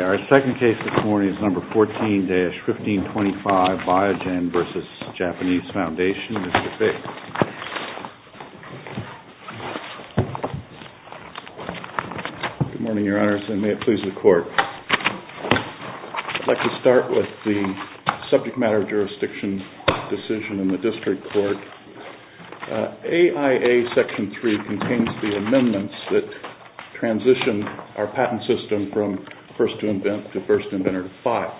Our second case this morning is No. 14-1525, Biogen v. Japanese Foundation. Mr. Fick. Good morning, Your Honors, and may it please the Court. I'd like to start with the subject matter of jurisdiction decision in the District Court. AIA Section 3 contains the amendments that transition our patent system from first to first inventor to file.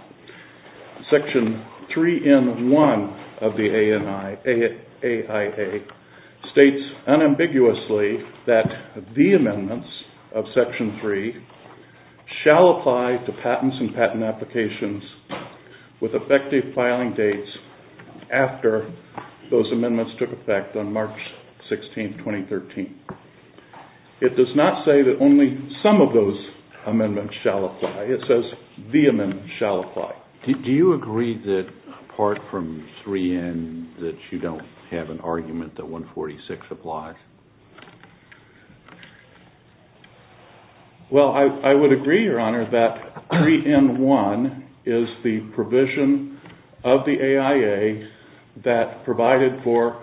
Section 3 in 1 of the AIA states unambiguously that the amendments of Section 3 shall apply to patents and patent applications with effective filing dates after those amendments took effect on March 16, 2013. It does not say that only some of those amendments shall apply. It says the amendments shall apply. Do you agree that apart from 3N that you don't have an argument that 146 applies? Well, I would agree, Your Honor, that 3N1 is the provision of the AIA that provided for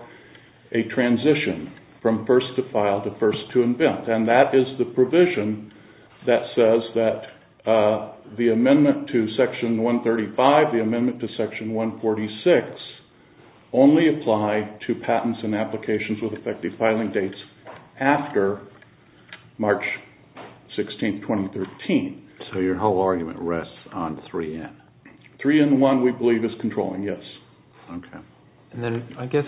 a transition from first to file to first to invent. And that is the provision that says that the amendment to Section 135, the amendment to Section 146, only apply to patents and applications with effective filing dates after March 16, 2013. So your whole argument rests on 3N? 3N1 we believe is controlling, yes. And then I guess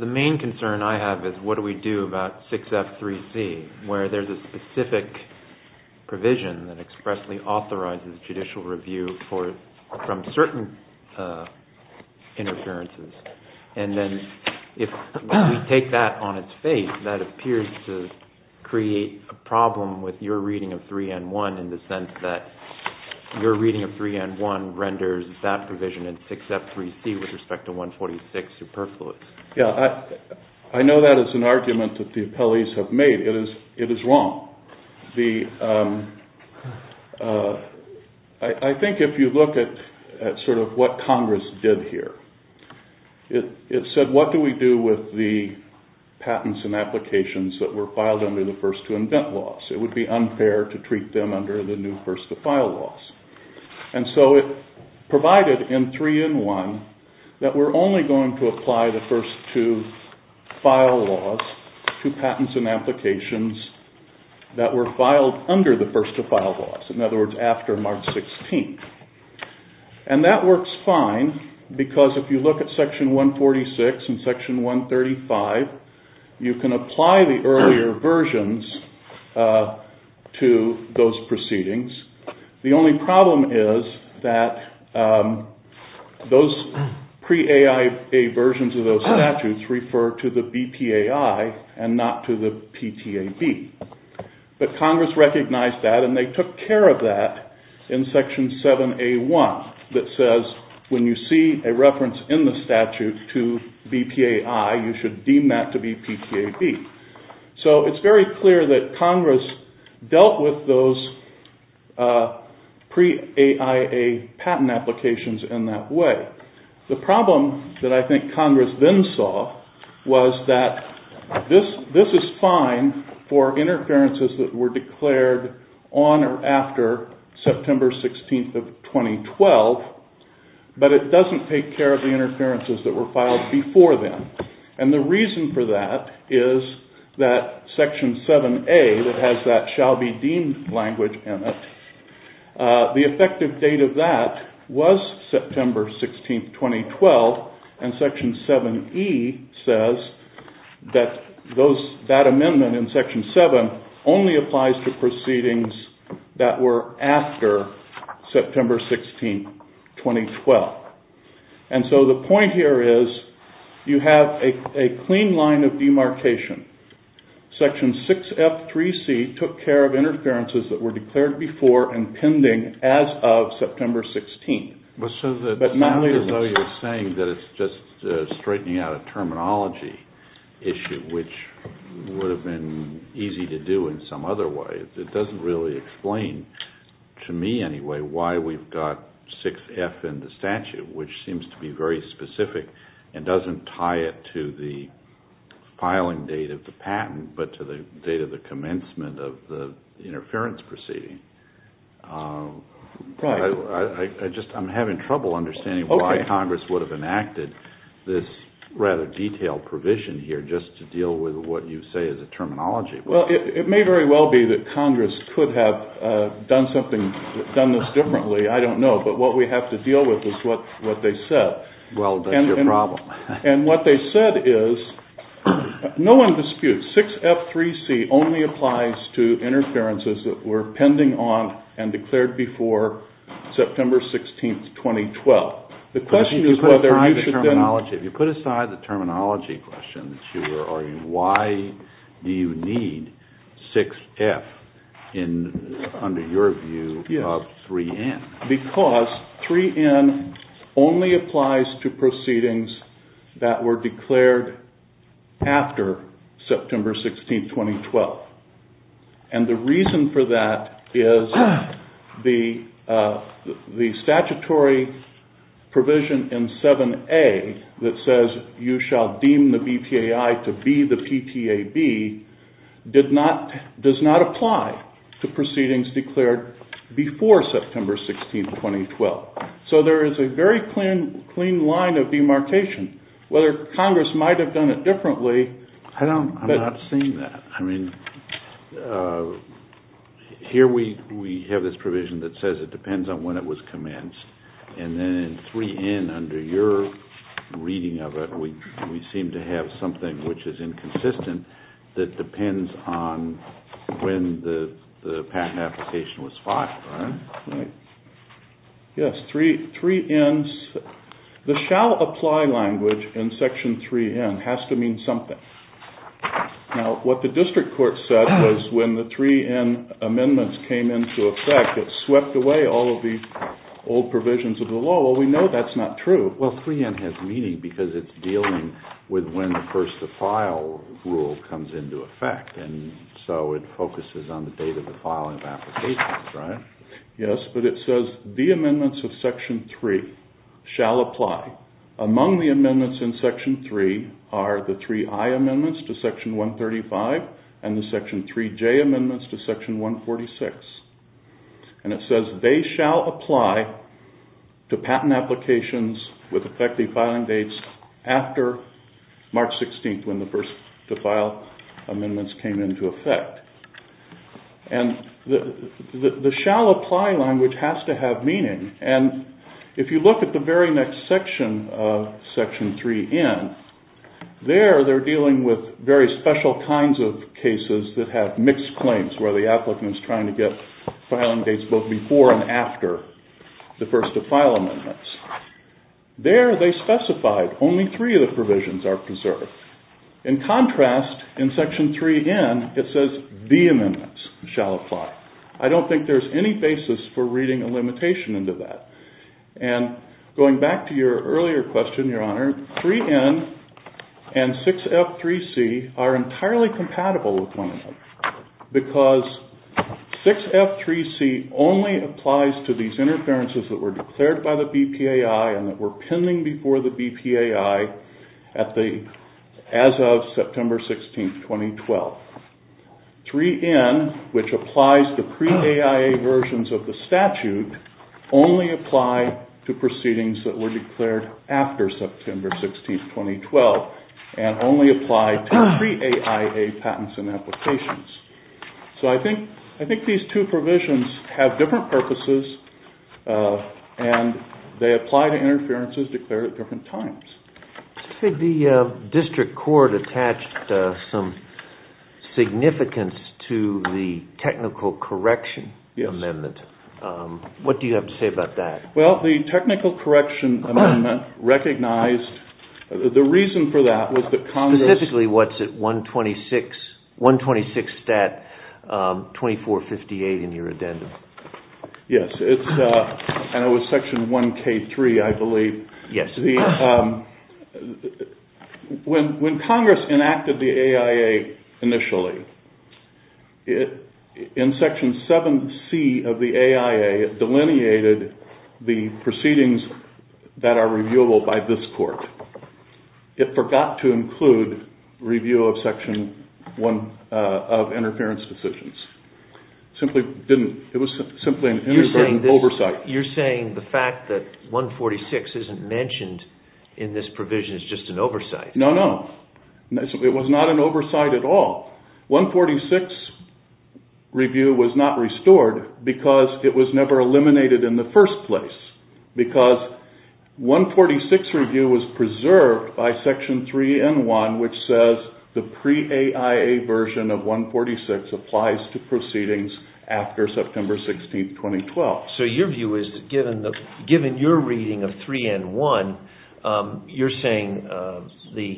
the main concern I have is what do we do about 6F3C where there's a specific provision that expressly authorizes judicial review from certain interferences. And then if we take that on its face, that appears to create a problem with your reading of 3N1 in the sense that your reading of 3N1 renders that provision in 6F3C with respect to 146 superfluous. I know that is an argument that the appellees have made. It is wrong. I think if you look at sort of what Congress did here, it said what do we do with the patents and applications that were filed under the first to invent laws? It would be unfair to treat them under the new first to file laws. And so it provided in 3N1 that we're only going to apply the first to file laws to patents and applications that were filed under the first to file laws. In other words, after March 16. And that works fine because if you look at Section 146 and Section 135, you can apply the earlier versions to those proceedings. The only problem is that those pre-AIA versions of those statutes refer to the BPAI and not to the PTAB. But Congress recognized that and they took care of that in Section 7A1 that says when you see a reference in the statute to BPAI, you should deem that to be PTAB. So it's very clear that Congress dealt with those pre-AIA patent applications in that way. The problem that I think Congress then saw was that this is fine for interferences that were declared on or after September 16th of 2012, but it doesn't take care of the interferences that were filed before then. And the reason for that is that Section 7A that has that shall be deemed language in it, the effective date of that was September 16th, 2012, and Section 7E says that that amendment in Section 7 only applies to proceedings that were after September 16th, 2012. And so the point here is you have a clean line of demarcation. Section 6F3C took care of interferences that were declared before and pending as of September 16th. It's not as though you're saying that it's just straightening out a terminology issue, which would have been easy to do in some other way. It doesn't really explain, to me anyway, why we've got 6F in the statute, which seems to be very specific and doesn't tie it to the filing date of the patent, but to the date of the commencement of the interference proceeding. I'm having trouble understanding why Congress would have enacted this rather detailed provision here just to deal with what you say is a terminology issue. Well, it may very well be that Congress could have done this differently, I don't know, but what we have to deal with is what they said. Well, that's your problem. And what they said is, no one disputes, 6F3C only applies to interferences that were pending on and declared before September 16th, 2012. If you put aside the terminology question that you were arguing, why do you need 6F under your view of 3N? Because 3N only applies to proceedings that were declared after September 16th, 2012. And the reason for that is the statutory provision in 7A that says you shall deem the BTAI to be the PTAB does not apply to proceedings declared before September 16th, 2012. So there is a very clean line of demarcation. Whether Congress might have done it differently... I'm not seeing that. Here we have this provision that says it depends on when it was commenced, and then in 3N under your reading of it we seem to have something which is inconsistent that depends on when the patent application was filed. Yes, 3N, the shall apply language in section 3N has to mean something. Now, what the district court said was when the 3N amendments came into effect it swept away all of the old provisions of the law. Well, we know that's not true. Well, 3N has meaning because it's dealing with when the first to file rule comes into effect and so it focuses on the date of the filing of applications, right? Yes, but it says the amendments of section 3 shall apply. Among the amendments in section 3 are the 3I amendments to section 135 and the section 3J amendments to section 146. And it says they shall apply to patent applications with effective filing dates after March 16th when the first to file amendments came into effect. And the shall apply language has to have meaning. And if you look at the very next section of section 3N, there they're dealing with very special kinds of cases that have mixed claims where the applicant is trying to get filing dates both before and after the first to file amendments. There they specified only three of the provisions are preserved. In contrast, in section 3N it says the amendments shall apply. I don't think there's any basis for reading a limitation into that. And going back to your earlier question, Your Honor, 3N and 6F3C are entirely compatible with one another because 6F3C only applies to these interferences that were declared by the BPAI and that were pending before the BPAI as of September 16th, 2012. 3N, which applies to pre-AIA versions of the statute, only apply to proceedings that were declared after September 16th, 2012 and only apply to pre-AIA patents and applications. So I think these two provisions have different purposes and they apply to interferences declared at different times. The district court attached some significance to the technical correction amendment. What do you have to say about that? Well, the technical correction amendment recognized... The reason for that was that Congress... Specifically what's at 126, 126 stat 2458 in your addendum. Yes, and it was section 1K3, I believe. Yes. When Congress enacted the AIA initially, in section 7C of the AIA, it delineated the proceedings that are reviewable by this court. It forgot to include review of section 1 of interference decisions. It was simply an interference oversight. You're saying the fact that 146 isn't mentioned in this provision is just an oversight. No, no. It was not an oversight at all. 146 review was not restored because it was never eliminated in the first place. Because 146 review was preserved by section 3N1, which says the pre-AIA version of 146 applies to proceedings after September 16th, 2012. So your view is that given your reading of 3N1, you're saying the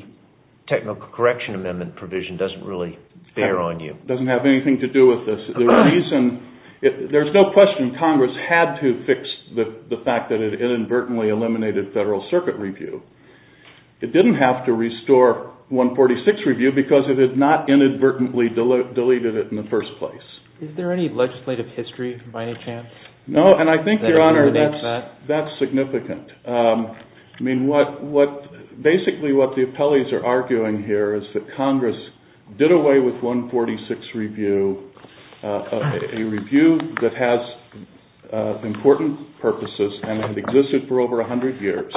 technical correction amendment provision doesn't really bear on you. It doesn't have anything to do with this. There's no question Congress had to fix the fact that it inadvertently eliminated federal circuit review. It didn't have to restore 146 review because it had not inadvertently deleted it in the first place. Is there any legislative history, by any chance? No, and I think, Your Honor, that's significant. I mean, basically what the appellees are arguing here is that Congress did away with 146 review, a review that has important purposes and had existed for over 100 years.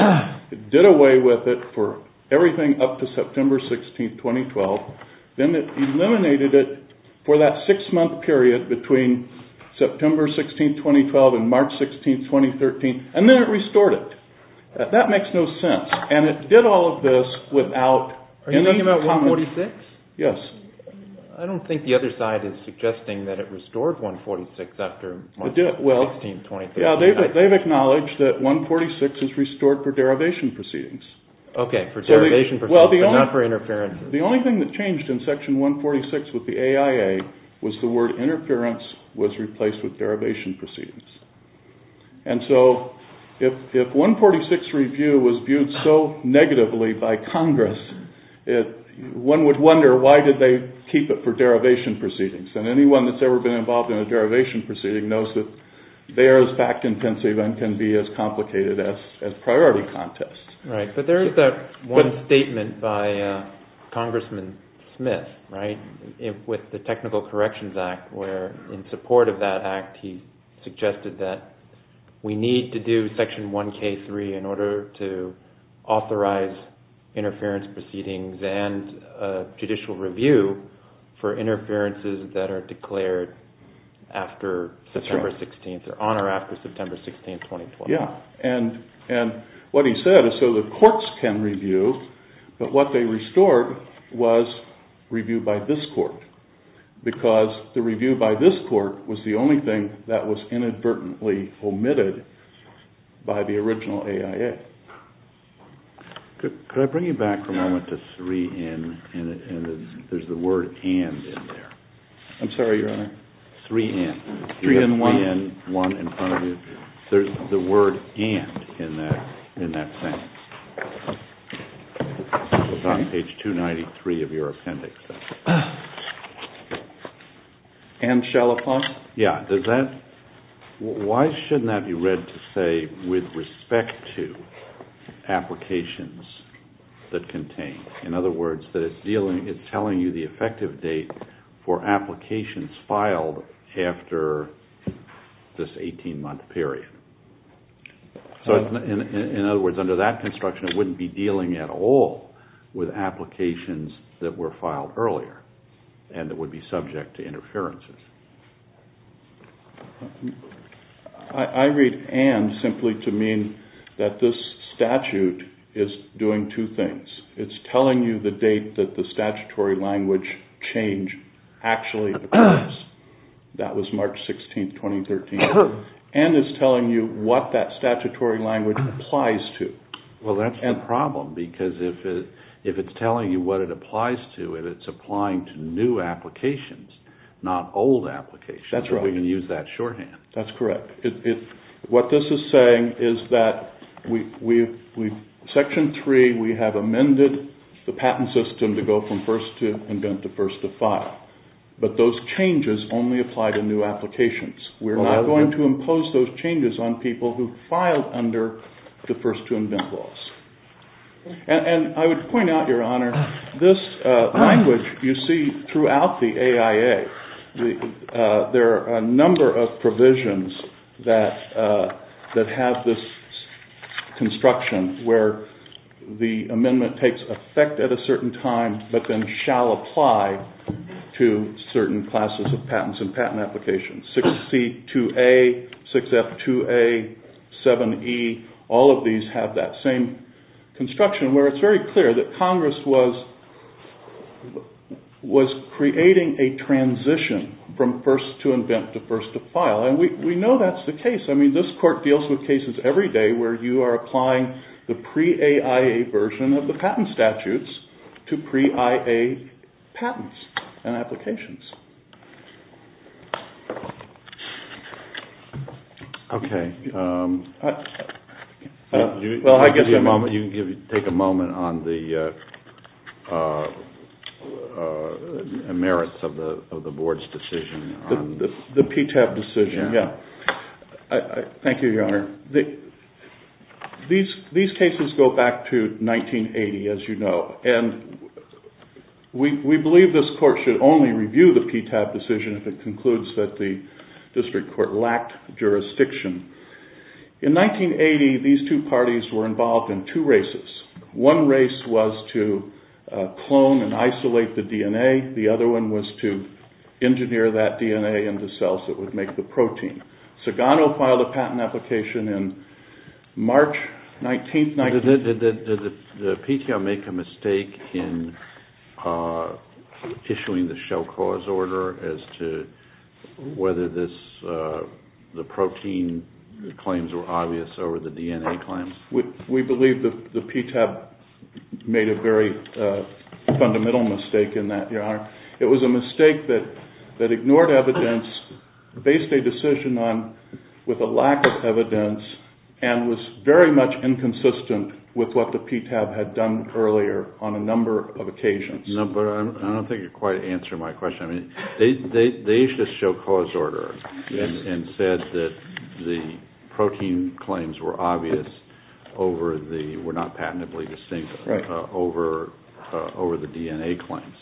It did away with it for everything up to September 16th, 2012. Then it eliminated it for that six-month period between September 16th, 2012 and March 16th, 2013. And then it restored it. That makes no sense. And it did all of this without... Are you talking about 146? Yes. I don't think the other side is suggesting that it restored 146 after March 16th, 2012. Yeah, they've acknowledged that 146 is restored for derivation proceedings. Okay, for derivation proceedings, but not for interferences. The only thing that changed in Section 146 with the AIA was the word interference was replaced with derivation proceedings. And so if 146 review was viewed so negatively by Congress, one would wonder why did they keep it for derivation proceedings. And anyone that's ever been involved in a derivation proceeding knows that they are as fact-intensive and can be as complicated as priority contests. Right, but there is that one statement by Congressman Smith with the Technical Corrections Act where in support of that act, he suggested that we need to do Section 1K3 in order to authorize interference proceedings and judicial review for interferences that are declared after September 16th or on or after September 16th, 2012. Yeah, and what he said is so the courts can review, but what they restored was review by this court because the review by this court was the only thing that was inadvertently omitted by the original AIA. Could I bring you back for a moment to 3N and there's the word and in there. I'm sorry, Your Honor. 3N. 3N1. 3N1 in front of you. There's the word and in that sentence. It's on page 293 of your appendix. And shall upon? Yeah. Why shouldn't that be read to say with respect to applications that contain? In other words, that it's telling you the effective date for applications filed after this 18-month period. So in other words, under that construction, it wouldn't be dealing at all with applications that were filed earlier and that would be subject to interferences. I read and simply to mean that this statute is doing two things. It's telling you the date that the statutory language change actually occurs. That was March 16th, 2013. And it's telling you what that statutory language applies to. Well, that's the problem because if it's telling you what it applies to and it's applying to new applications, not old applications, we can use that shorthand. That's correct. What this is saying is that Section 3, we have amended the patent system to go from first to invent to first to file. But those changes only apply to new applications. We're not going to impose those changes on people who filed under the first to invent laws. And I would point out, Your Honor, this language you see throughout the AIA. There are a number of provisions that have this construction where the amendment takes effect at a certain time but then shall apply to certain classes of patents and patent applications. 6C2A, 6F2A, 7E, all of these have that same construction where it's very clear that Congress was creating a transition from first to invent to first to file. And we know that's the case. Okay. Well, I guess you can take a moment on the merits of the Board's decision. The PTAB decision, yeah. Thank you, Your Honor. These cases go back to 1980, as you know, and we believe this Court should only review the PTAB decision if it concludes that the district court lacked jurisdiction. In 1980, these two parties were involved in two races. One race was to clone and isolate the DNA. The other one was to engineer that DNA into cells that would make the protein. Sagano filed a patent application in March 19, 1990. Did the PTAB make a mistake in issuing the shell cause order as to whether the protein claims were obvious over the DNA claims? We believe the PTAB made a very fundamental mistake in that, Your Honor. It was a mistake that ignored evidence, based a decision on with a lack of evidence, and was very much inconsistent with what the PTAB had done earlier on a number of occasions. No, but I don't think you're quite answering my question. They issued a shell cause order and said that the protein claims were obvious over the, were not patently distinct over the DNA claims.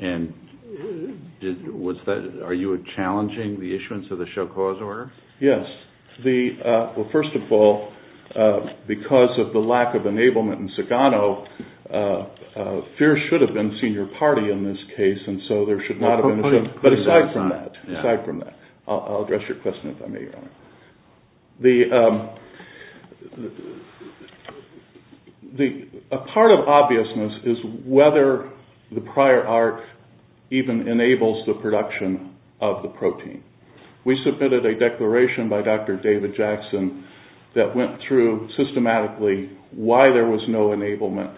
And are you challenging the issuance of the shell cause order? Yes. Well, first of all, because of the lack of enablement in Sagano, FEERS should have been senior party in this case, and so there should not have been, but aside from that, I'll address your question if I may, Your Honor. A part of obviousness is whether the prior arc even enables the production of the protein. We submitted a declaration by Dr. David Jackson that went through systematically why there was no enablement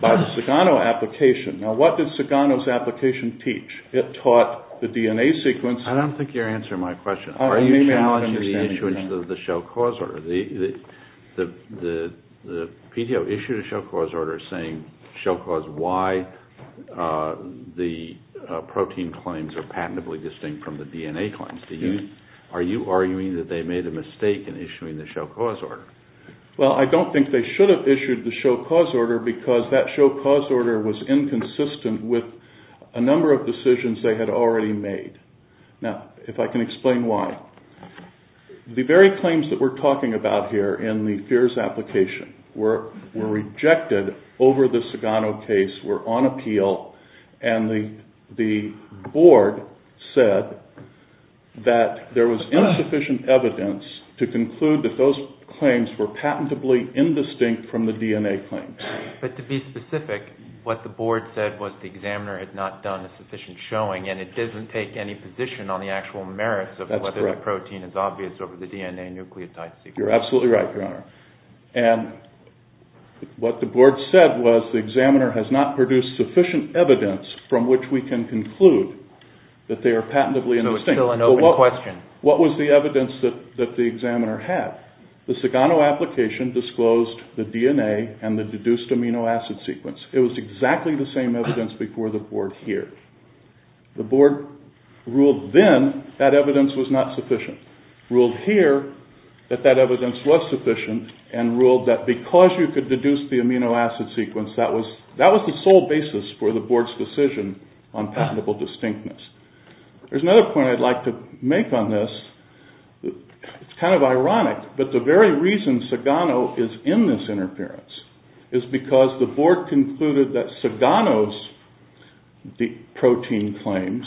by the Sagano application. Now, what did Sagano's application teach? It taught the DNA sequence. I don't think you're answering my question. Are you challenging the issuance of the shell cause order? The PDO issued a shell cause order saying why the protein claims are patently distinct from the DNA claims. Are you arguing that they made a mistake in issuing the shell cause order? Well, I don't think they should have issued the shell cause order because that shell cause order was inconsistent with a number of decisions they had already made. Now, if I can explain why. The very claims that we're talking about here in the FEERS application were rejected over the Sagano case, were on appeal, and the board said that there was insufficient evidence to conclude that those claims were patentably indistinct from the DNA claims. But to be specific, what the board said was the examiner had not done a sufficient showing, and it doesn't take any position on the actual merits of whether the protein is obvious over the DNA nucleotide sequence. You're absolutely right, Your Honor. And what the board said was the examiner has not produced sufficient evidence from which we can conclude that they are patentably indistinct. So it's still an open question. What was the evidence that the examiner had? The Sagano application disclosed the DNA and the deduced amino acid sequence. It was exactly the same evidence before the board here. The board ruled then that evidence was not sufficient, ruled here that that evidence was sufficient, and ruled that because you could deduce the amino acid sequence, that was the sole basis for the board's decision on patentable distinctness. There's another point I'd like to make on this. It's kind of ironic, but the very reason Sagano is in this interference is because the board concluded that Sagano's DNA protein claims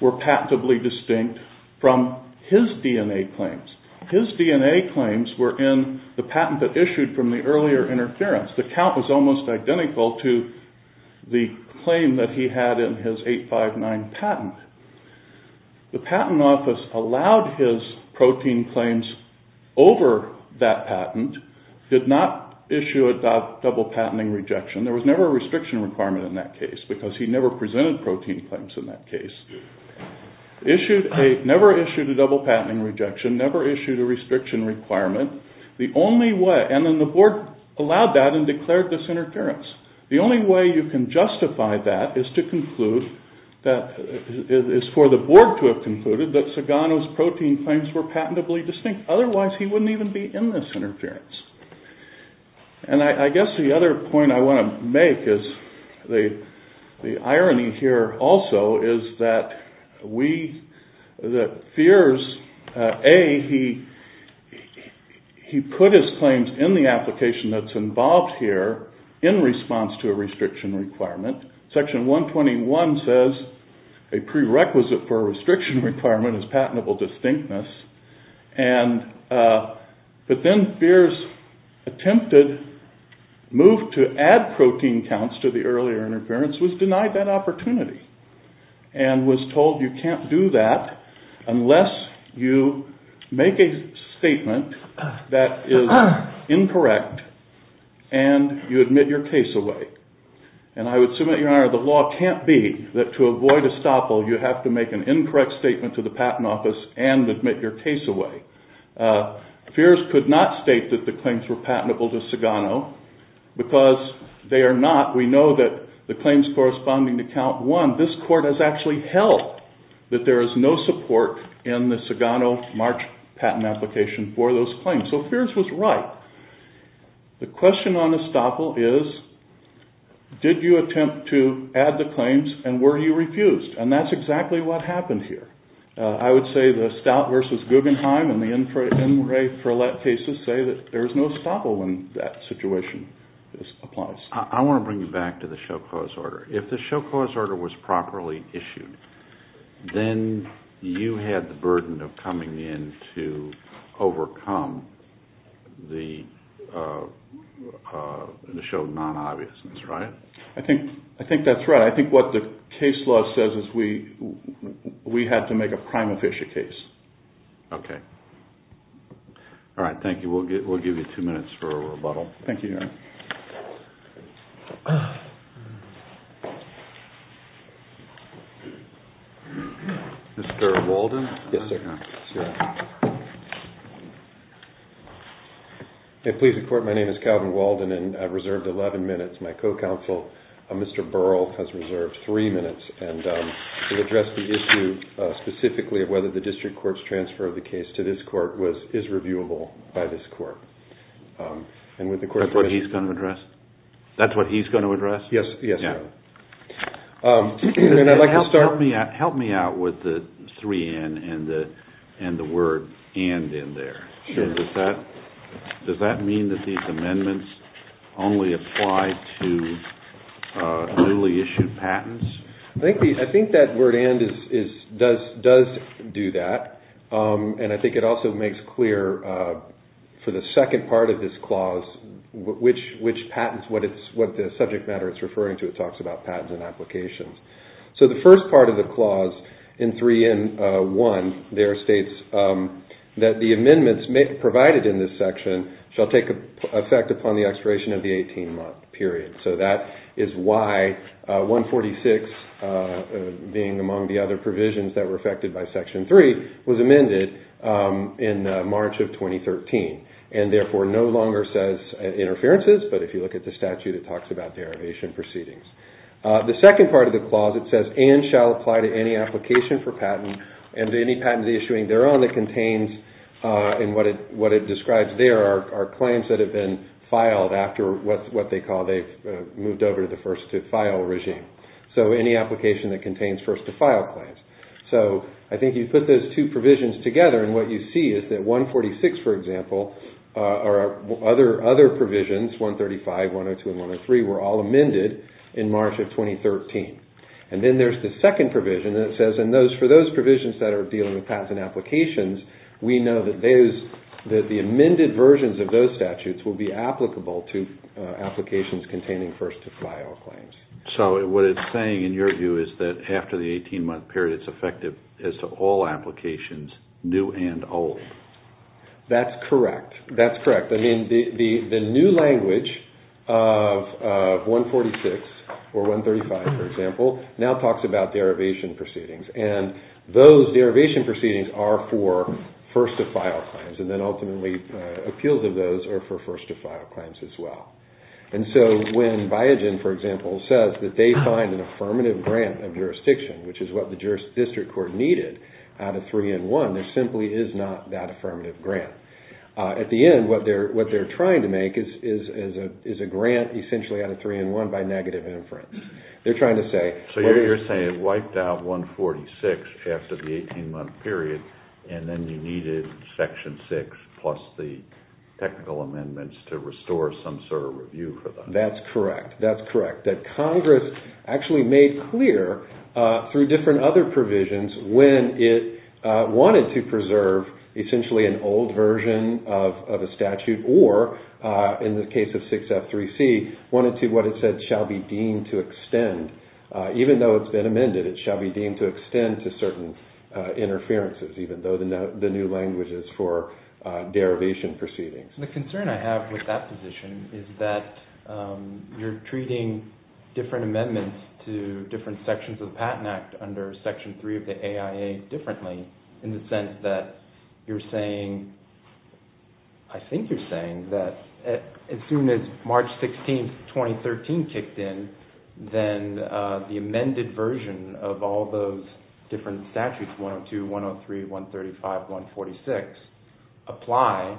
were patentably distinct from his DNA claims. His DNA claims were in the patent that issued from the earlier interference. The count was almost identical to the claim that he had in his 859 patent. The patent office allowed his protein claims over that patent, did not issue a double patenting rejection. There was never a restriction requirement in that case because he never presented protein claims in that case. Never issued a double patenting rejection, never issued a restriction requirement. And then the board allowed that and declared this interference. The only way you can justify that is for the board to have concluded that Sagano's protein claims were patentably distinct. Otherwise, he wouldn't even be in this interference. And I guess the other point I want to make is the irony here also is that we, that Feers, A, he put his claims in the application that's involved here in response to a restriction requirement. Section 121 says a prerequisite for a restriction requirement is patentable distinctness. But then Feers attempted, moved to add protein counts to the earlier interference, was denied that opportunity. And was told you can't do that unless you make a statement that is incorrect and you admit your case away. And I would submit, Your Honor, the law can't be that to avoid estoppel you have to make an incorrect statement to the patent office and admit your case away. Feers could not state that the claims were patentable to Sagano because they are not. We know that the claims corresponding to count one, this court has actually held that there is no support in the Sagano March patent application for those claims. So Feers was right. The question on estoppel is, did you attempt to add the claims and were you refused? And that's exactly what happened here. I would say the Stout v. Guggenheim and the N. Ray Ferlet cases say that there is no estoppel when that situation applies. I want to bring you back to the show cause order. If the show cause order was properly issued, then you had the burden of coming in to overcome the show non-obviousness, right? I think that's right. I think what the case law says is we had to make a prime official case. Okay. All right, thank you. We'll give you two minutes for a rebuttal. Thank you, Your Honor. Mr. Walden? Yes, sir. Please report. My name is Calvin Walden and I've reserved 11 minutes. My co-counsel, Mr. Burrell, has reserved three minutes and will address the issue specifically of whether the district court's transfer of the case to this court is reviewable by this court. That's what he's going to address? Yes, Your Honor. Help me out with the 3N and the word and in there. Does that mean that these amendments only apply to newly issued patents? I think that word and does do that. And I think it also makes clear for the second part of this clause which patents, what the subject matter it's referring to. It talks about patents and applications. So the first part of the clause in 3N1 there states that the amendments provided in this section shall take effect upon the expiration of the 18-month period. So that is why 146 being among the other provisions that were affected by Section 3 was amended in March of 2013 and therefore no longer says interferences. But if you look at the statute, it talks about derivation proceedings. The second part of the clause, it says and shall apply to any application for patent and any patents issuing their own that contains and what it describes there are claims that have been filed after what they call they've moved over to the first to file regime. So any application that contains first to file claims. So I think you put those two provisions together and what you see is that 146, for example, or other provisions 135, 102, and 103 were all amended in March of 2013. And then there's the second provision that says for those provisions that are dealing with patents and applications, we know that the amended versions of those statutes will be applicable to applications containing first to file claims. So what it's saying in your view is that after the 18-month period it's effective as to all applications new and old. That's correct. That's correct. I mean the new language of 146 or 135, for example, now talks about derivation proceedings. And those derivation proceedings are for first to file claims and then ultimately appeals of those are for first to file claims as well. And so when Biogen, for example, says that they find an affirmative grant of jurisdiction, which is what the district court needed out of 3-in-1, there simply is not that affirmative grant. At the end, what they're trying to make is a grant essentially out of 3-in-1 by negative inference. So you're saying it wiped out 146 after the 18-month period and then you needed Section 6 plus the technical amendments to restore some sort of review for that. That's correct. That's correct. That Congress actually made clear through different other provisions when it wanted to preserve essentially an old version of a statute or, in the case of 6F3C, wanted to what it said shall be deemed to extend. Even though it's been amended, it shall be deemed to extend to certain interferences even though the new language is for derivation proceedings. The concern I have with that position is that you're treating different amendments to different sections of the Patent Act under Section 3 of the AIA differently in the sense that you're saying, I think you're saying that as soon as March 16, 2013 kicked in, then the amended version of all those different statutes, 102, 103, 135, 146, apply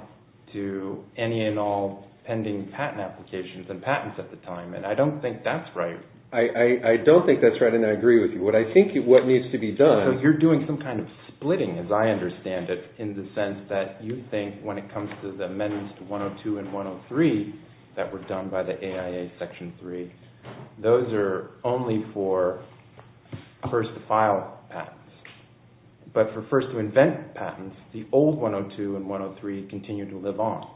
to any and all pending patent applications and patents at the time. And I don't think that's right. I don't think that's right and I agree with you. You're doing some kind of splitting, as I understand it, in the sense that you think when it comes to the amendments to 102 and 103 that were done by the AIA Section 3, those are only for first-to-file patents. But for first-to-invent patents, the old 102 and 103 continue to live on.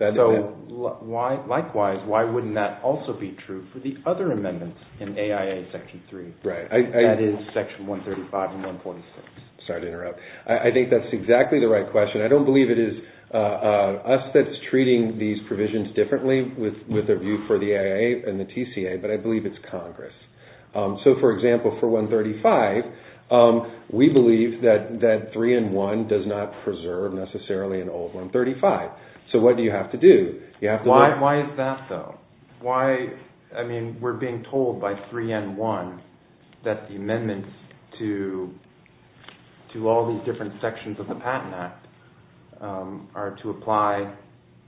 Likewise, why wouldn't that also be true for the other amendments in AIA Section 3? That is Section 135 and 146. Sorry to interrupt. I think that's exactly the right question. I don't believe it is us that's treating these provisions differently with a view for the AIA and the TCA, but I believe it's Congress. So, for example, for 135, we believe that 3N1 does not preserve necessarily an old 135. So what do you have to do? Why is that, though? We're being told by 3N1 that the amendments to all these different sections of the Patent Act are to apply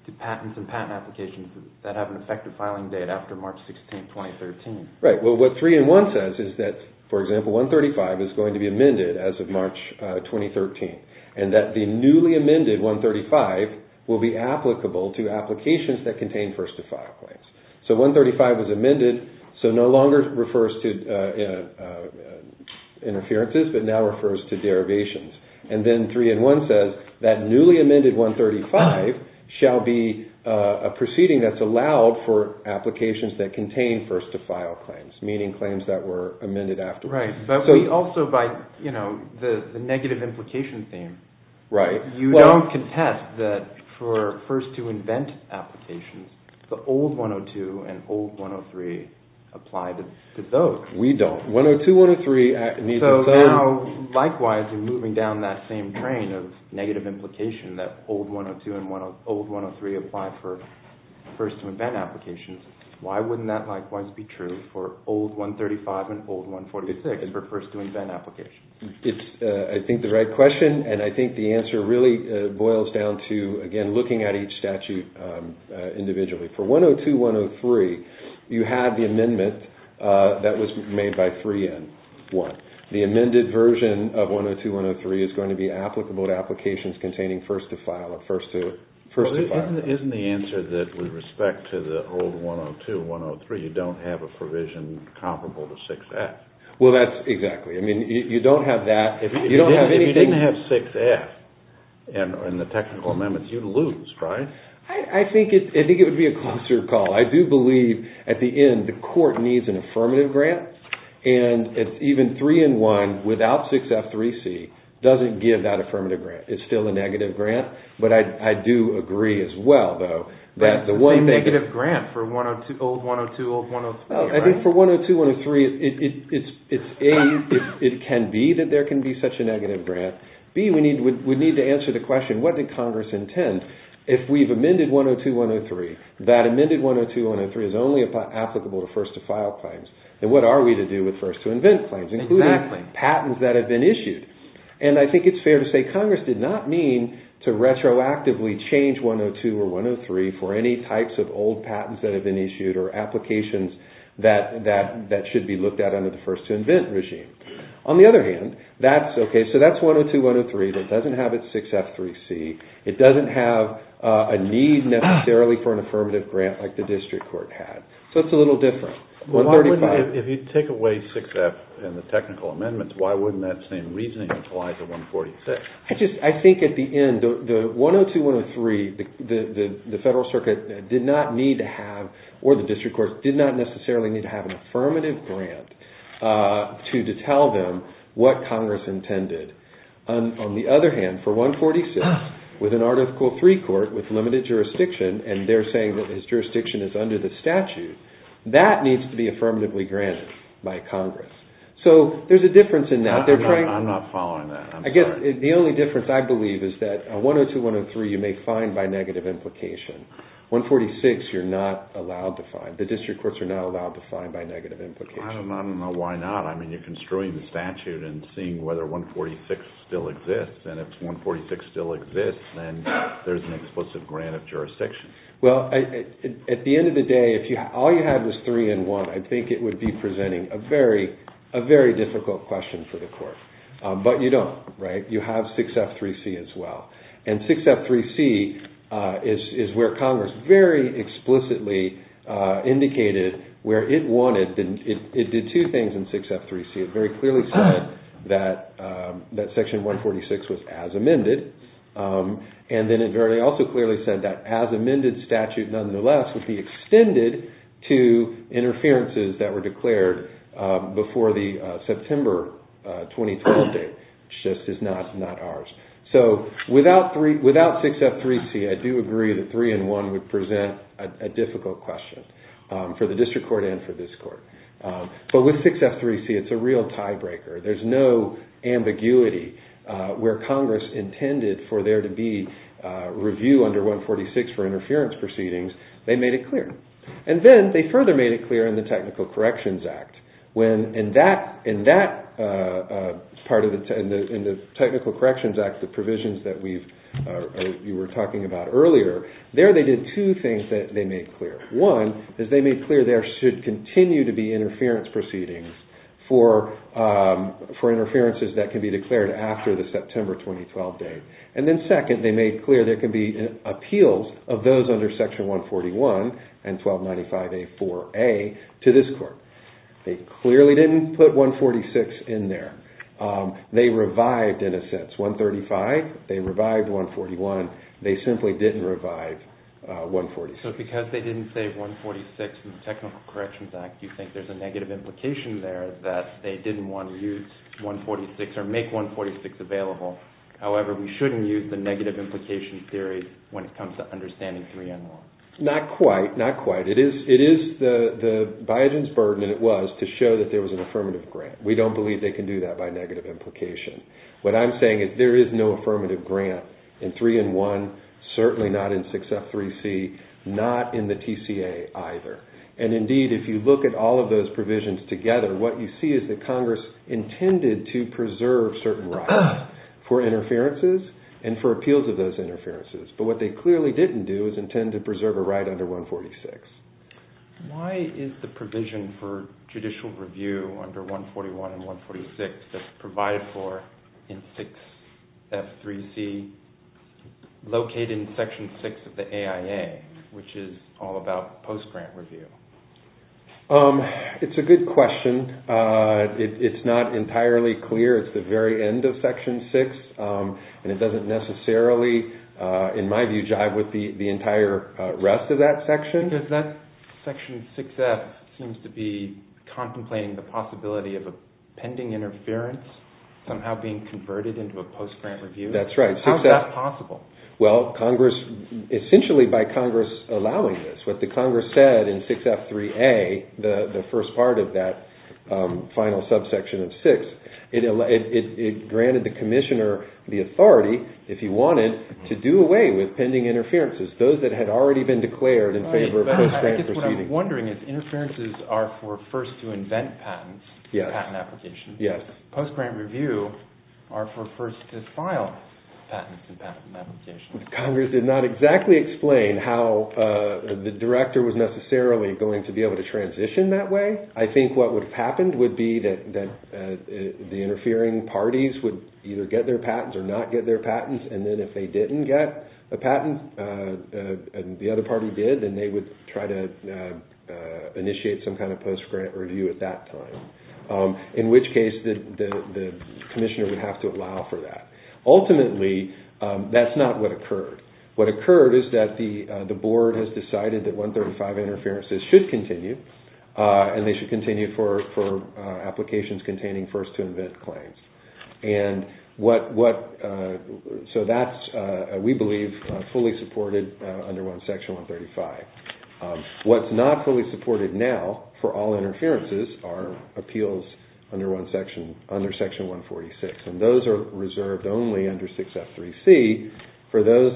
to patents and patent applications that have an effective filing date after March 16, 2013. Right. Well, what 3N1 says is that, for example, 135 is going to be amended as of March 2013, and that the newly amended 135 will be applicable to applications that contain first-to-file claims. So 135 was amended, so no longer refers to interferences, but now refers to derivations. And then 3N1 says that newly amended 135 shall be a proceeding that's allowed for applications that contain first-to-file claims, meaning claims that were amended afterwards. Right. But we also, by the negative implication theme, you don't contest that for first-to-invent applications, the old 102 and old 103 apply to those. We don't. 102, 103 need to apply. Now, likewise, you're moving down that same train of negative implication that old 102 and old 103 apply for first-to-invent applications. Why wouldn't that likewise be true for old 135 and old 146 for first-to-invent applications? It's, I think, the right question, and I think the answer really boils down to, again, looking at each statute individually. For 102, 103, you have the amendment that was made by 3N1. The amended version of 102, 103 is going to be applicable to applications containing first-to-file or first-to-first-to-file. Isn't the answer that with respect to the old 102, 103, you don't have a provision comparable to 6F? Well, that's exactly. I mean, you don't have that. If you didn't have 6F in the technical amendments, you'd lose, right? I think it would be a closer call. I do believe, at the end, the court needs an affirmative grant, and even 3N1 without 6F3C doesn't give that affirmative grant. It's still a negative grant, but I do agree as well, though, that the one thing— It's a negative grant for old 102, old 103, right? I think for 102, 103, it's A, it can be that there can be such a negative grant. B, we need to answer the question, what did Congress intend? If we've amended 102, 103, that amended 102, 103 is only applicable to first-to-file claims, then what are we to do with first-to-invent claims, including patents that have been issued? And I think it's fair to say Congress did not mean to retroactively change 102 or 103 for any types of old patents that have been issued or applications that should be looked at under the first-to-invent regime. On the other hand, that's—OK, so that's 102, 103 that doesn't have its 6F3C. It doesn't have a need necessarily for an affirmative grant like the district court had. So it's a little different. If you take away 6F and the technical amendments, why wouldn't that same reasoning apply to 146? I think at the end, the 102, 103, the federal circuit did not need to have— what Congress intended. On the other hand, for 146, with an Article III court with limited jurisdiction, and they're saying that this jurisdiction is under the statute, that needs to be affirmatively granted by Congress. So there's a difference in that. I'm not following that. I'm sorry. I guess the only difference, I believe, is that 102, 103 you may find by negative implication. 146 you're not allowed to find. The district courts are not allowed to find by negative implication. I don't know why not. I mean, you're construing the statute and seeing whether 146 still exists. And if 146 still exists, then there's an explicit grant of jurisdiction. Well, at the end of the day, if all you had was 3 and 1, I think it would be presenting a very difficult question for the court. But you don't, right? You have 6F3C as well. And 6F3C is where Congress very explicitly indicated where it wanted— 6F3C very clearly said that Section 146 was as amended. And then it very also clearly said that as amended statute, nonetheless, would be extended to interferences that were declared before the September 2012 date. It just is not ours. So without 6F3C, I do agree that 3 and 1 would present a difficult question for the district court and for this court. But with 6F3C, it's a real tiebreaker. There's no ambiguity where Congress intended for there to be review under 146 for interference proceedings. They made it clear. And then they further made it clear in the Technical Corrections Act. When in that part of the—in the Technical Corrections Act, the provisions that you were talking about earlier, there they did two things that they made clear. One is they made clear there should continue to be interference proceedings for interferences that can be declared after the September 2012 date. And then second, they made clear there can be appeals of those under Section 141 and 1295A4A to this court. They clearly didn't put 146 in there. They revived, in a sense, 135. They revived 141. They simply didn't revive 146. So because they didn't save 146 in the Technical Corrections Act, you think there's a negative implication there that they didn't want to use 146 or make 146 available. However, we shouldn't use the negative implication theory when it comes to understanding 3 and 1. Not quite. Not quite. It is the—Biogen's burden, and it was, to show that there was an affirmative grant. We don't believe they can do that by negative implication. What I'm saying is there is no affirmative grant in 3 and 1, certainly not in 6F3C, not in the TCA either. And indeed, if you look at all of those provisions together, what you see is that Congress intended to preserve certain rights for interferences and for appeals of those interferences. But what they clearly didn't do is intend to preserve a right under 146. Why is the provision for judicial review under 141 and 146 that's provided for in 6F3C located in Section 6 of the AIA, which is all about post-grant review? It's a good question. It's not entirely clear. It's the very end of Section 6, and it doesn't necessarily, in my view, jive with the entire rest of that section. Because that Section 6F seems to be contemplating the possibility of a pending interference somehow being converted into a post-grant review. That's right. How is that possible? Well, Congress—essentially by Congress allowing this. What the Congress said in 6F3A, the first part of that final subsection of 6, it granted the commissioner the authority, if he wanted, to do away with pending interferences. Those that had already been declared in favor of post-grant proceedings. But I guess what I'm wondering is interferences are for first-to-invent patents in patent applications. Yes. Post-grant review are for first-to-file patents in patent applications. Congress did not exactly explain how the director was necessarily going to be able to transition that way. I think what would have happened would be that the interfering parties would either get their patents or not get their patents. And then if they didn't get a patent, and the other party did, then they would try to initiate some kind of post-grant review at that time. In which case, the commissioner would have to allow for that. Ultimately, that's not what occurred. What occurred is that the board has decided that 135 interferences should continue, and they should continue for applications containing first-to-invent claims. And so that's, we believe, fully supported under Section 135. What's not fully supported now for all interferences are appeals under Section 146. And those are reserved only under 6F3C for those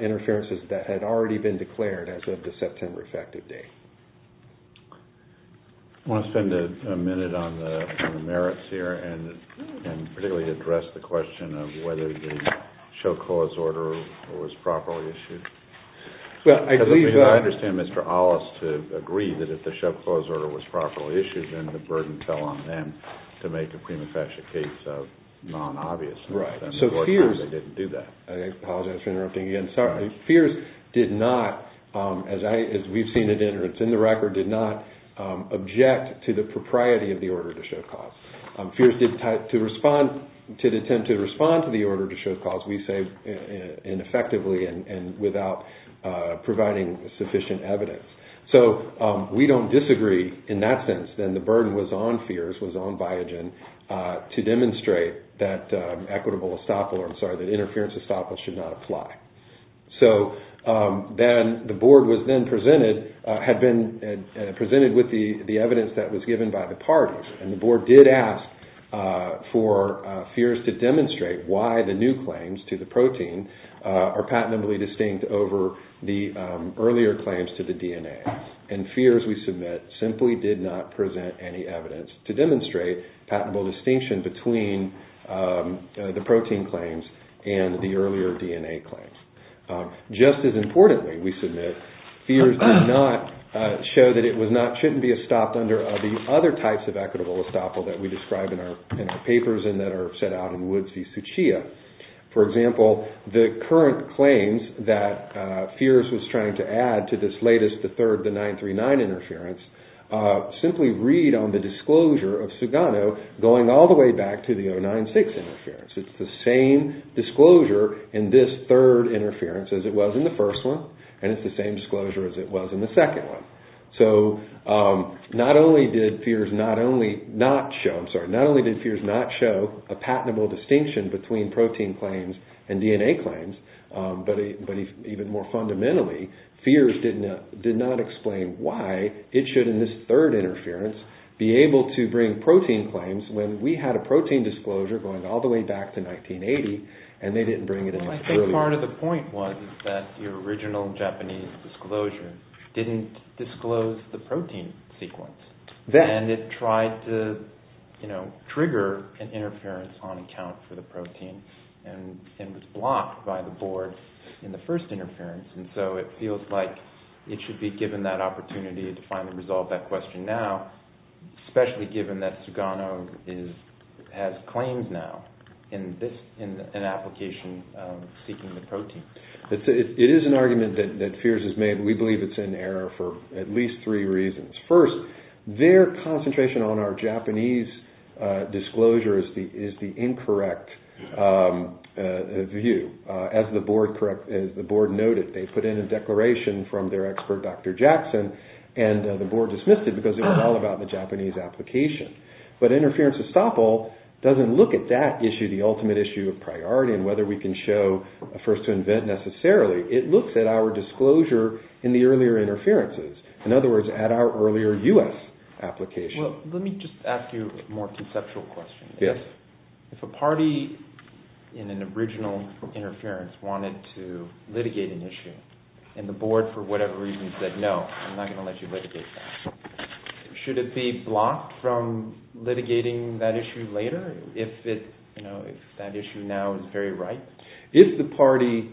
interferences that had already been declared as of the September effective date. I want to spend a minute on the merits here, and particularly address the question of whether the show-clause order was properly issued. Because I understand Mr. Aulis to agree that if the show-clause order was properly issued, then the burden fell on them to make a pre-manufactured case of non-obviousness. And of course, they didn't do that. I apologize for interrupting again. FEERS did not, as we've seen it in the record, did not object to the propriety of the order to show-clause. FEERS did attempt to respond to the order to show-clause, we say, ineffectively and without providing sufficient evidence. So we don't disagree in that sense. Then the burden was on FEERS, was on Biogen, to demonstrate that equitable estoppel, or I'm sorry, that interference estoppel should not apply. So then the board was then presented with the evidence that was given by the parties. And the board did ask for FEERS to demonstrate why the new claims to the protein are patently distinct over the earlier claims to the DNA. And FEERS, we submit, simply did not present any evidence to demonstrate patentable distinction between the protein claims and the earlier DNA claims. Just as importantly, we submit, FEERS did not show that it was not, shouldn't be estopped under the other types of equitable estoppel that we describe in our papers and that are set out in Woods v. Suchia. For example, the current claims that FEERS was trying to add to this latest, the third, the 939 interference, simply read on the disclosure of Sugano going all the way back to the 096 interference. It's the same disclosure in this third interference as it was in the first one, and it's the same disclosure as it was in the second one. So not only did FEERS not show a patentable distinction between protein claims and DNA claims, but even more fundamentally, FEERS did not explain why it should, in this third interference, be able to bring protein claims when we had a protein disclosure going all the way back to 1980 and they didn't bring it in. I think part of the point was that the original Japanese disclosure didn't disclose the protein sequence, and it tried to, you know, trigger an interference on account for the protein, and it was blocked by the board in the first interference, and so it feels like it should be given that opportunity to finally resolve that question now, especially given that Sugano has claims now in an application seeking the protein. It is an argument that FEERS has made, and we believe it's in error for at least three reasons. First, their concentration on our Japanese disclosure is the incorrect view. As the board noted, they put in a declaration from their expert, Dr. Jackson, and the board dismissed it because it was all about the Japanese application. But Interference Estoppel doesn't look at that issue, the ultimate issue of priority, and whether we can show a first to invent necessarily. It looks at our disclosure in the earlier interferences, in other words, at our earlier U.S. application. Well, let me just ask you a more conceptual question. Yes. If a party in an original interference wanted to litigate an issue, and the board, for whatever reason, said, no, I'm not going to let you litigate that, should it be blocked from litigating that issue later if that issue now is very ripe? If the party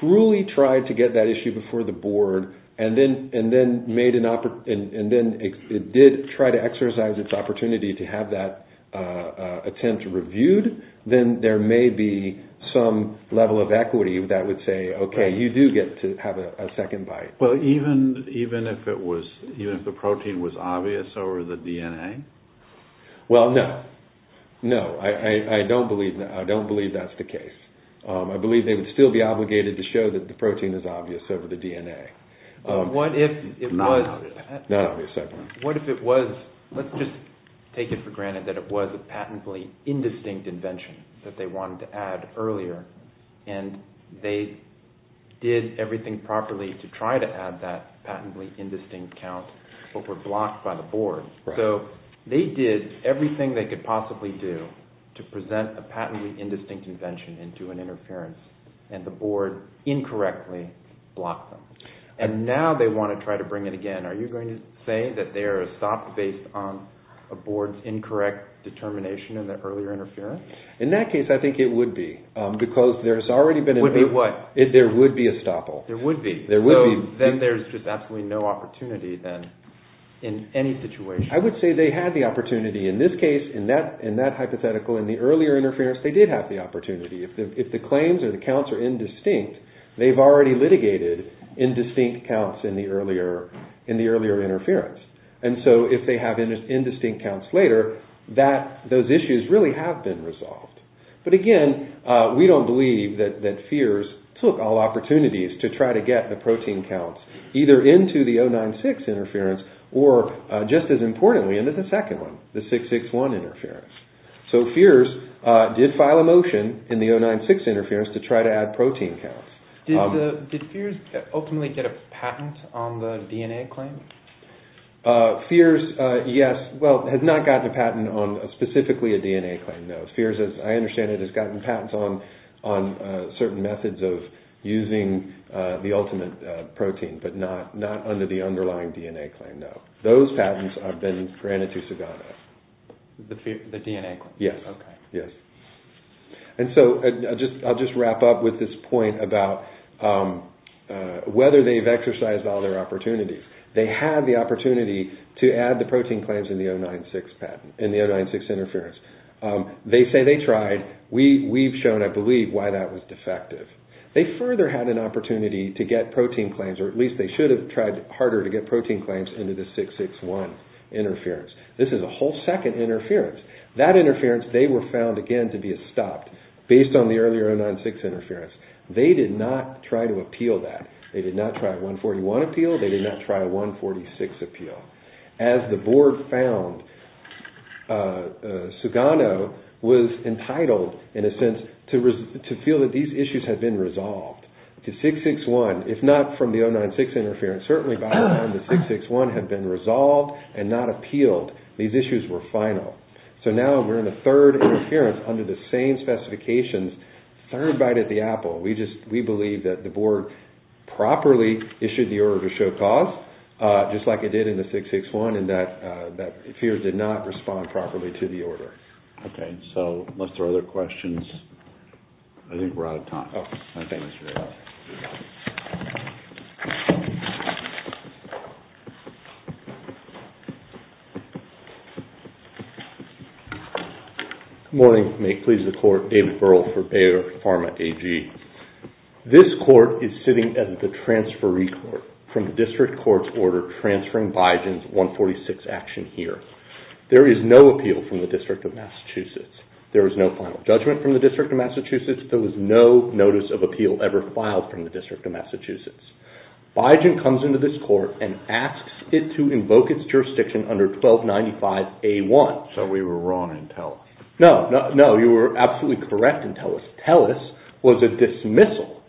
truly tried to get that issue before the board, and then it did try to exercise its opportunity to have that attempt reviewed, then there may be some level of equity that would say, okay, you do get to have a second bite. Well, even if the protein was obvious over the DNA? Well, no. No, I don't believe that's the case. I believe they would still be obligated to show that the protein is obvious over the DNA. What if it was? Not obvious, I apologize. What if it was? Let's just take it for granted that it was a patently indistinct invention that they wanted to add earlier, and they did everything properly to try to add that patently indistinct count, but were blocked by the board. So they did everything they could possibly do to present a patently indistinct invention into an interference, and the board incorrectly blocked them. And now they want to try to bring it again. Are you going to say that they are a stop based on a board's incorrect determination in the earlier interference? In that case, I think it would be, because there's already been a… Would be what? There would be a stopple. There would be. There would be. Then there's just absolutely no opportunity then in any situation. I would say they had the opportunity in this case, in that hypothetical, in the earlier interference, they did have the opportunity. If the claims or the counts are indistinct, they've already litigated indistinct counts in the earlier interference. And so if they have indistinct counts later, those issues really have been resolved. But again, we don't believe that FEERS took all opportunities to try to get the protein counts either into the 096 interference or, just as importantly, into the second one, the 661 interference. So FEERS did file a motion in the 096 interference to try to add protein counts. Did FEERS ultimately get a patent on the DNA claim? FEERS, yes, well, has not gotten a patent on specifically a DNA claim, no. FEERS, as I understand it, has gotten patents on certain methods of using the ultimate protein, but not under the underlying DNA claim, no. Those patents have been granted to Sugamo. The DNA claim? Yes, yes. And so I'll just wrap up with this point about whether they've exercised all their opportunities. They had the opportunity to add the protein claims in the 096 patent, in the 096 interference. They say they tried. We've shown, I believe, why that was defective. They further had an opportunity to get protein claims, or at least they should have tried harder to get protein claims into the 661 interference. This is a whole second interference. That interference, they were found, again, to be stopped based on the earlier 096 interference. They did not try to appeal that. They did not try a 141 appeal. They did not try a 146 appeal. As the board found, Sugamo was entitled, in a sense, to feel that these issues had been resolved. To 661, if not from the 096 interference, certainly by then the 661 had been resolved and not appealed. These issues were final. So now we're in a third interference under the same specifications, third bite at the apple. We believe that the board properly issued the order to show cause, just like it did in the 661, and that FEERS did not respond properly to the order. Okay, so let's throw other questions. I think we're out of time. Oh, I think we're out of time. Good morning. May it please the court. David Burrell for Bayer Pharma AG. This court is sitting at the transferee court from the district court's order transferring Biogen's 146 action here. There is no appeal from the District of Massachusetts. There is no final judgment from the District of Massachusetts. There was no notice of appeal ever filed from the District of Massachusetts. Biogen comes into this court and asks it to invoke its jurisdiction under 1295A1. So we were wrong in TELUS. No, you were absolutely correct in TELUS. TELUS was a dismissal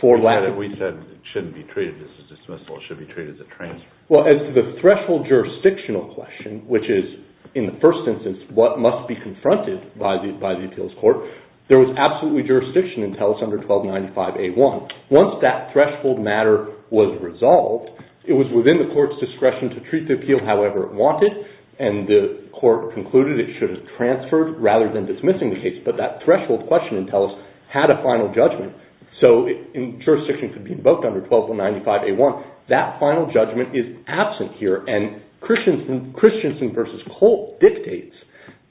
for lack of... We said it shouldn't be treated as a dismissal. It should be treated as a transfer. Well, as to the threshold jurisdictional question, which is, in the first instance, what must be confronted by the appeals court, there was absolutely jurisdiction in TELUS under 1295A1. Once that threshold matter was resolved, it was within the court's discretion to treat the appeal however it wanted. And the court concluded it should have transferred rather than dismissing the case. But that threshold question in TELUS had a final judgment. So jurisdiction could be invoked under 1295A1. That final judgment is absent here. And Christensen v. Colt dictates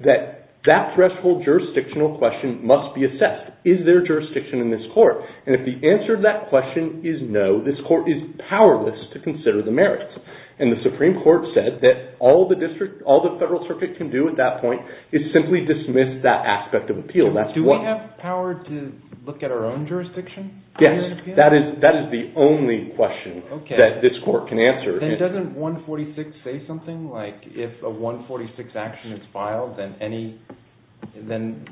that that threshold jurisdictional question must be assessed. Is there jurisdiction in this court? And if the answer to that question is no, this court is powerless to consider the merits. And the Supreme Court said that all the Federal Circuit can do at that point is simply dismiss that aspect of appeal. Do we have power to look at our own jurisdiction? Yes, that is the only question that this court can answer. Then doesn't 146 say something? Like if a 146 action is filed, then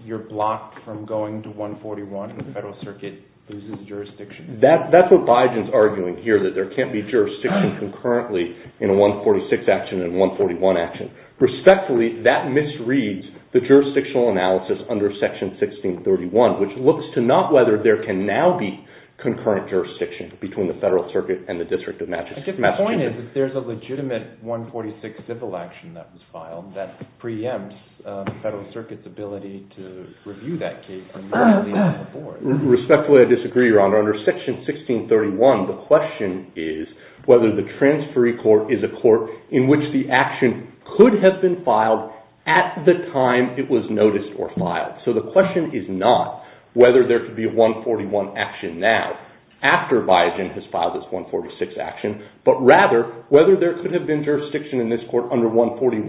you're blocked from going to 141 and the Federal Circuit loses jurisdiction? That's what Biden's arguing here, that there can't be jurisdiction concurrently in a 146 action and a 141 action. Respectfully, that misreads the jurisdictional analysis under Section 1631, which looks to not whether there can now be concurrent jurisdiction between the Federal Circuit and the District of Massachusetts. The point is that there's a legitimate 146 civil action that was filed that preempts the Federal Circuit's ability to review that case. Respectfully, I disagree, Your Honor. Under Section 1631, the question is whether the transferee court is a court in which the action could have been filed at the time it was noticed or filed. So the question is not whether there could be a 141 action now after Biden has filed this 146 action, but rather whether there could have been jurisdiction in this court under 141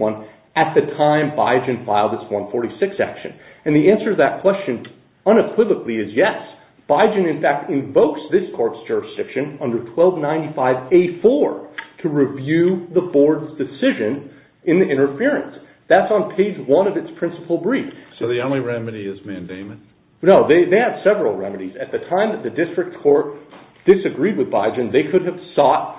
at the time Biden filed this 146 action. And the answer to that question unequivocally is yes. Biden, in fact, invokes this court's jurisdiction under 1295A4 to review the board's decision in the interference. That's on page one of its principal brief. So the only remedy is mandamon? No, they have several remedies. At the time that the district court disagreed with Biden, they could have sought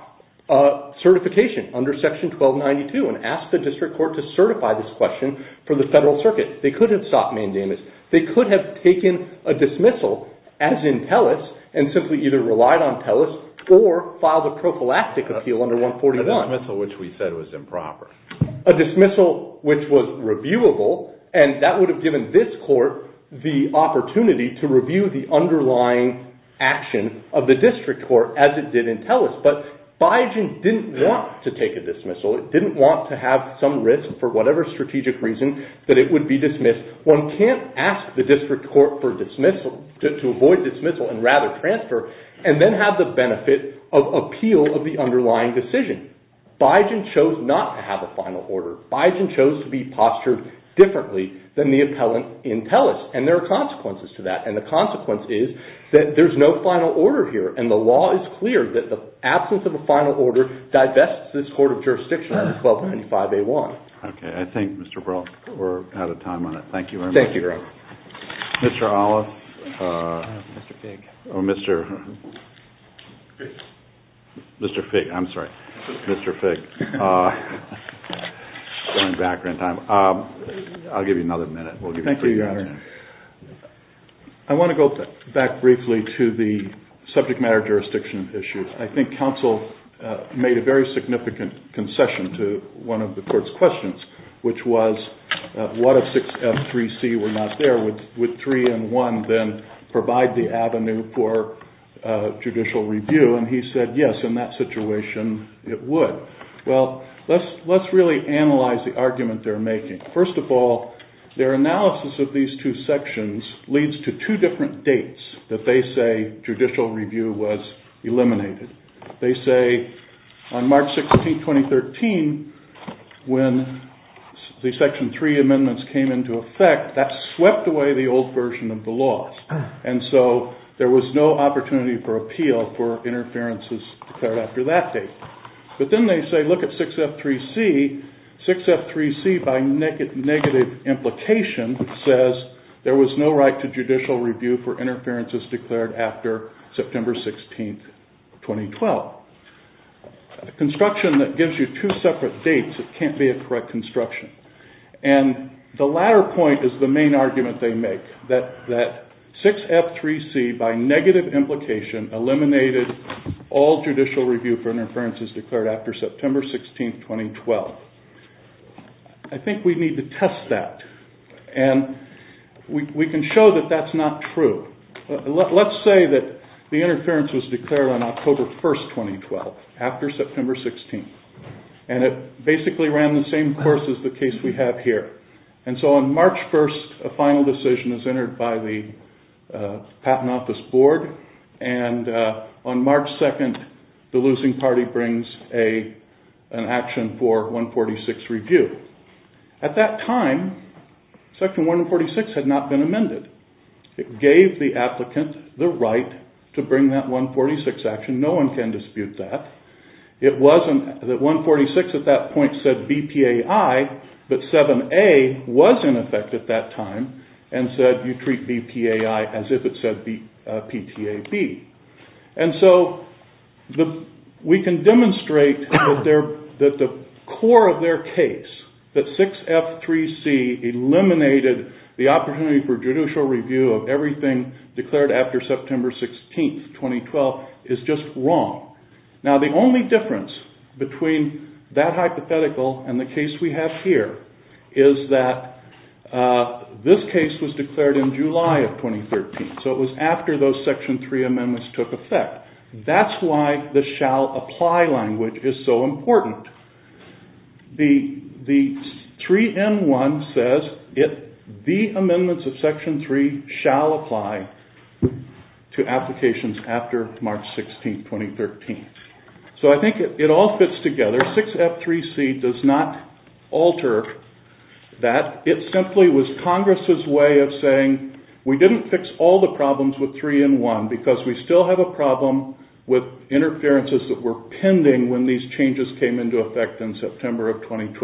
certification under Section 1292 and asked the district court to certify this question for the Federal Circuit. They could have sought mandamus. They could have taken a dismissal as in PELOS and simply either relied on PELOS or filed a prophylactic appeal under 141. A dismissal which we said was improper. A dismissal which was reviewable, and that would have given this court the opportunity to review the underlying action of the district court as it did in PELOS. But Biden didn't want to take a dismissal. It didn't want to have some risk for whatever strategic reason that it would be dismissed. One can't ask the district court for dismissal, to avoid dismissal and rather transfer, and then have the benefit of appeal of the underlying decision. Biden chose not to have a final order. Biden chose to be postured differently than the appellant in PELOS. And there are consequences to that. And the consequence is that there's no final order here. And the law is clear that the absence of a final order divests this court of jurisdiction under 1295A1. Okay. I think, Mr. Perl, we're out of time on that. Thank you very much. Thank you, Greg. Mr. Olive. Mr. Figg. Oh, Mr. Figg. I'm sorry. Mr. Figg. Going back in time. I'll give you another minute. Thank you, Your Honor. I want to go back briefly to the subject matter jurisdiction issue. I think counsel made a very significant concession to one of the court's questions, which was what if 6F3C were not there? Would 3 and 1 then provide the avenue for judicial review? And he said, yes, in that situation it would. Well, let's really analyze the argument they're making. First of all, their analysis of these two sections leads to two different dates that they say judicial review was eliminated. They say on March 16, 2013, when the Section 3 amendments came into effect, that swept away the old version of the laws. And so there was no opportunity for appeal for interferences declared after that date. But then they say, look at 6F3C. 6F3C, by negative implication, says there was no right to judicial review for interferences declared after September 16, 2012. A construction that gives you two separate dates, it can't be a correct construction. And the latter point is the main argument they make, that 6F3C, by negative implication, eliminated all judicial review for interferences declared after September 16, 2012. I think we need to test that. And we can show that that's not true. Let's say that the interference was declared on October 1, 2012, after September 16. And it basically ran the same course as the case we have here. And so on March 1, a final decision is entered by the Patent Office Board. And on March 2, the losing party brings an action for 146 review. At that time, Section 146 had not been amended. It gave the applicant the right to bring that 146 action. No one can dispute that. It wasn't that 146 at that point said BPAI, but 7A was in effect at that time, and said you treat BPAI as if it said PTAB. And so we can demonstrate that the core of their case, that 6F3C eliminated the opportunity for judicial review of everything declared after September 16, 2012, is just wrong. Now the only difference between that hypothetical and the case we have here is that this case was declared in July of 2013. So it was after those Section 3 amendments took effect. That's why the shall apply language is so important. The 3N1 says the amendments of Section 3 shall apply to applications after March 16, 2013. So I think it all fits together. 6F3C does not alter that. It simply was Congress' way of saying we didn't fix all the problems with 3N1 because we still have a problem with interferences that were pending when these changes came into effect in September of 2012.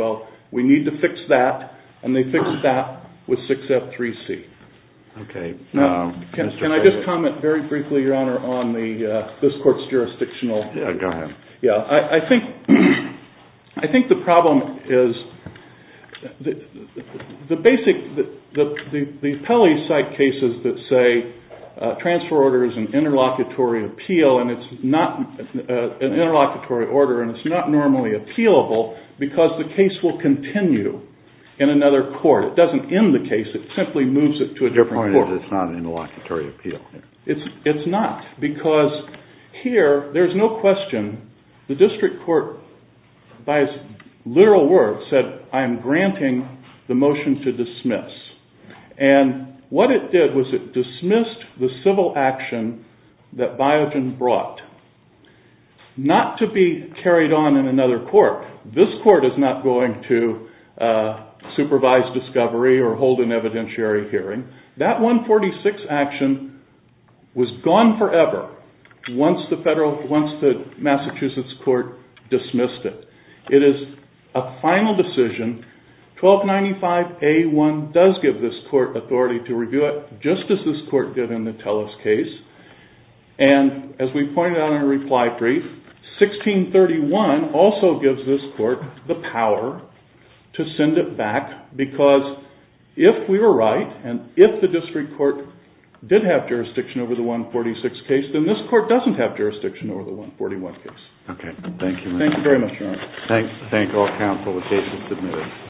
We need to fix that. And they fixed that with 6F3C. Can I just comment very briefly, Your Honor, on this Court's jurisdictional... Yeah, go ahead. Yeah, I think the problem is the basic... The appellees cite cases that say transfer order is an interlocutory appeal and it's not an interlocutory order and it's not normally appealable because the case will continue in another court. It doesn't end the case. It simply moves it to a different court. Your point is it's not an interlocutory appeal. It's not because here there's no question. The district court, by its literal words, said I'm granting the motion to dismiss. And what it did was it dismissed the civil action that Biogen brought not to be carried on in another court. This court is not going to supervise discovery or hold an evidentiary hearing. That 146 action was gone forever once the Massachusetts court dismissed it. It is a final decision. 1295A1 does give this court authority to review it, just as this court did in the Tellus case. And as we pointed out in our reply brief, 1631 also gives this court the power to send it back because if we were right and if the district court did have jurisdiction over the 146 case, then this court doesn't have jurisdiction over the 141 case. Okay. Thank you. Thank you very much, Your Honor. Thank all counsel. The case is submitted.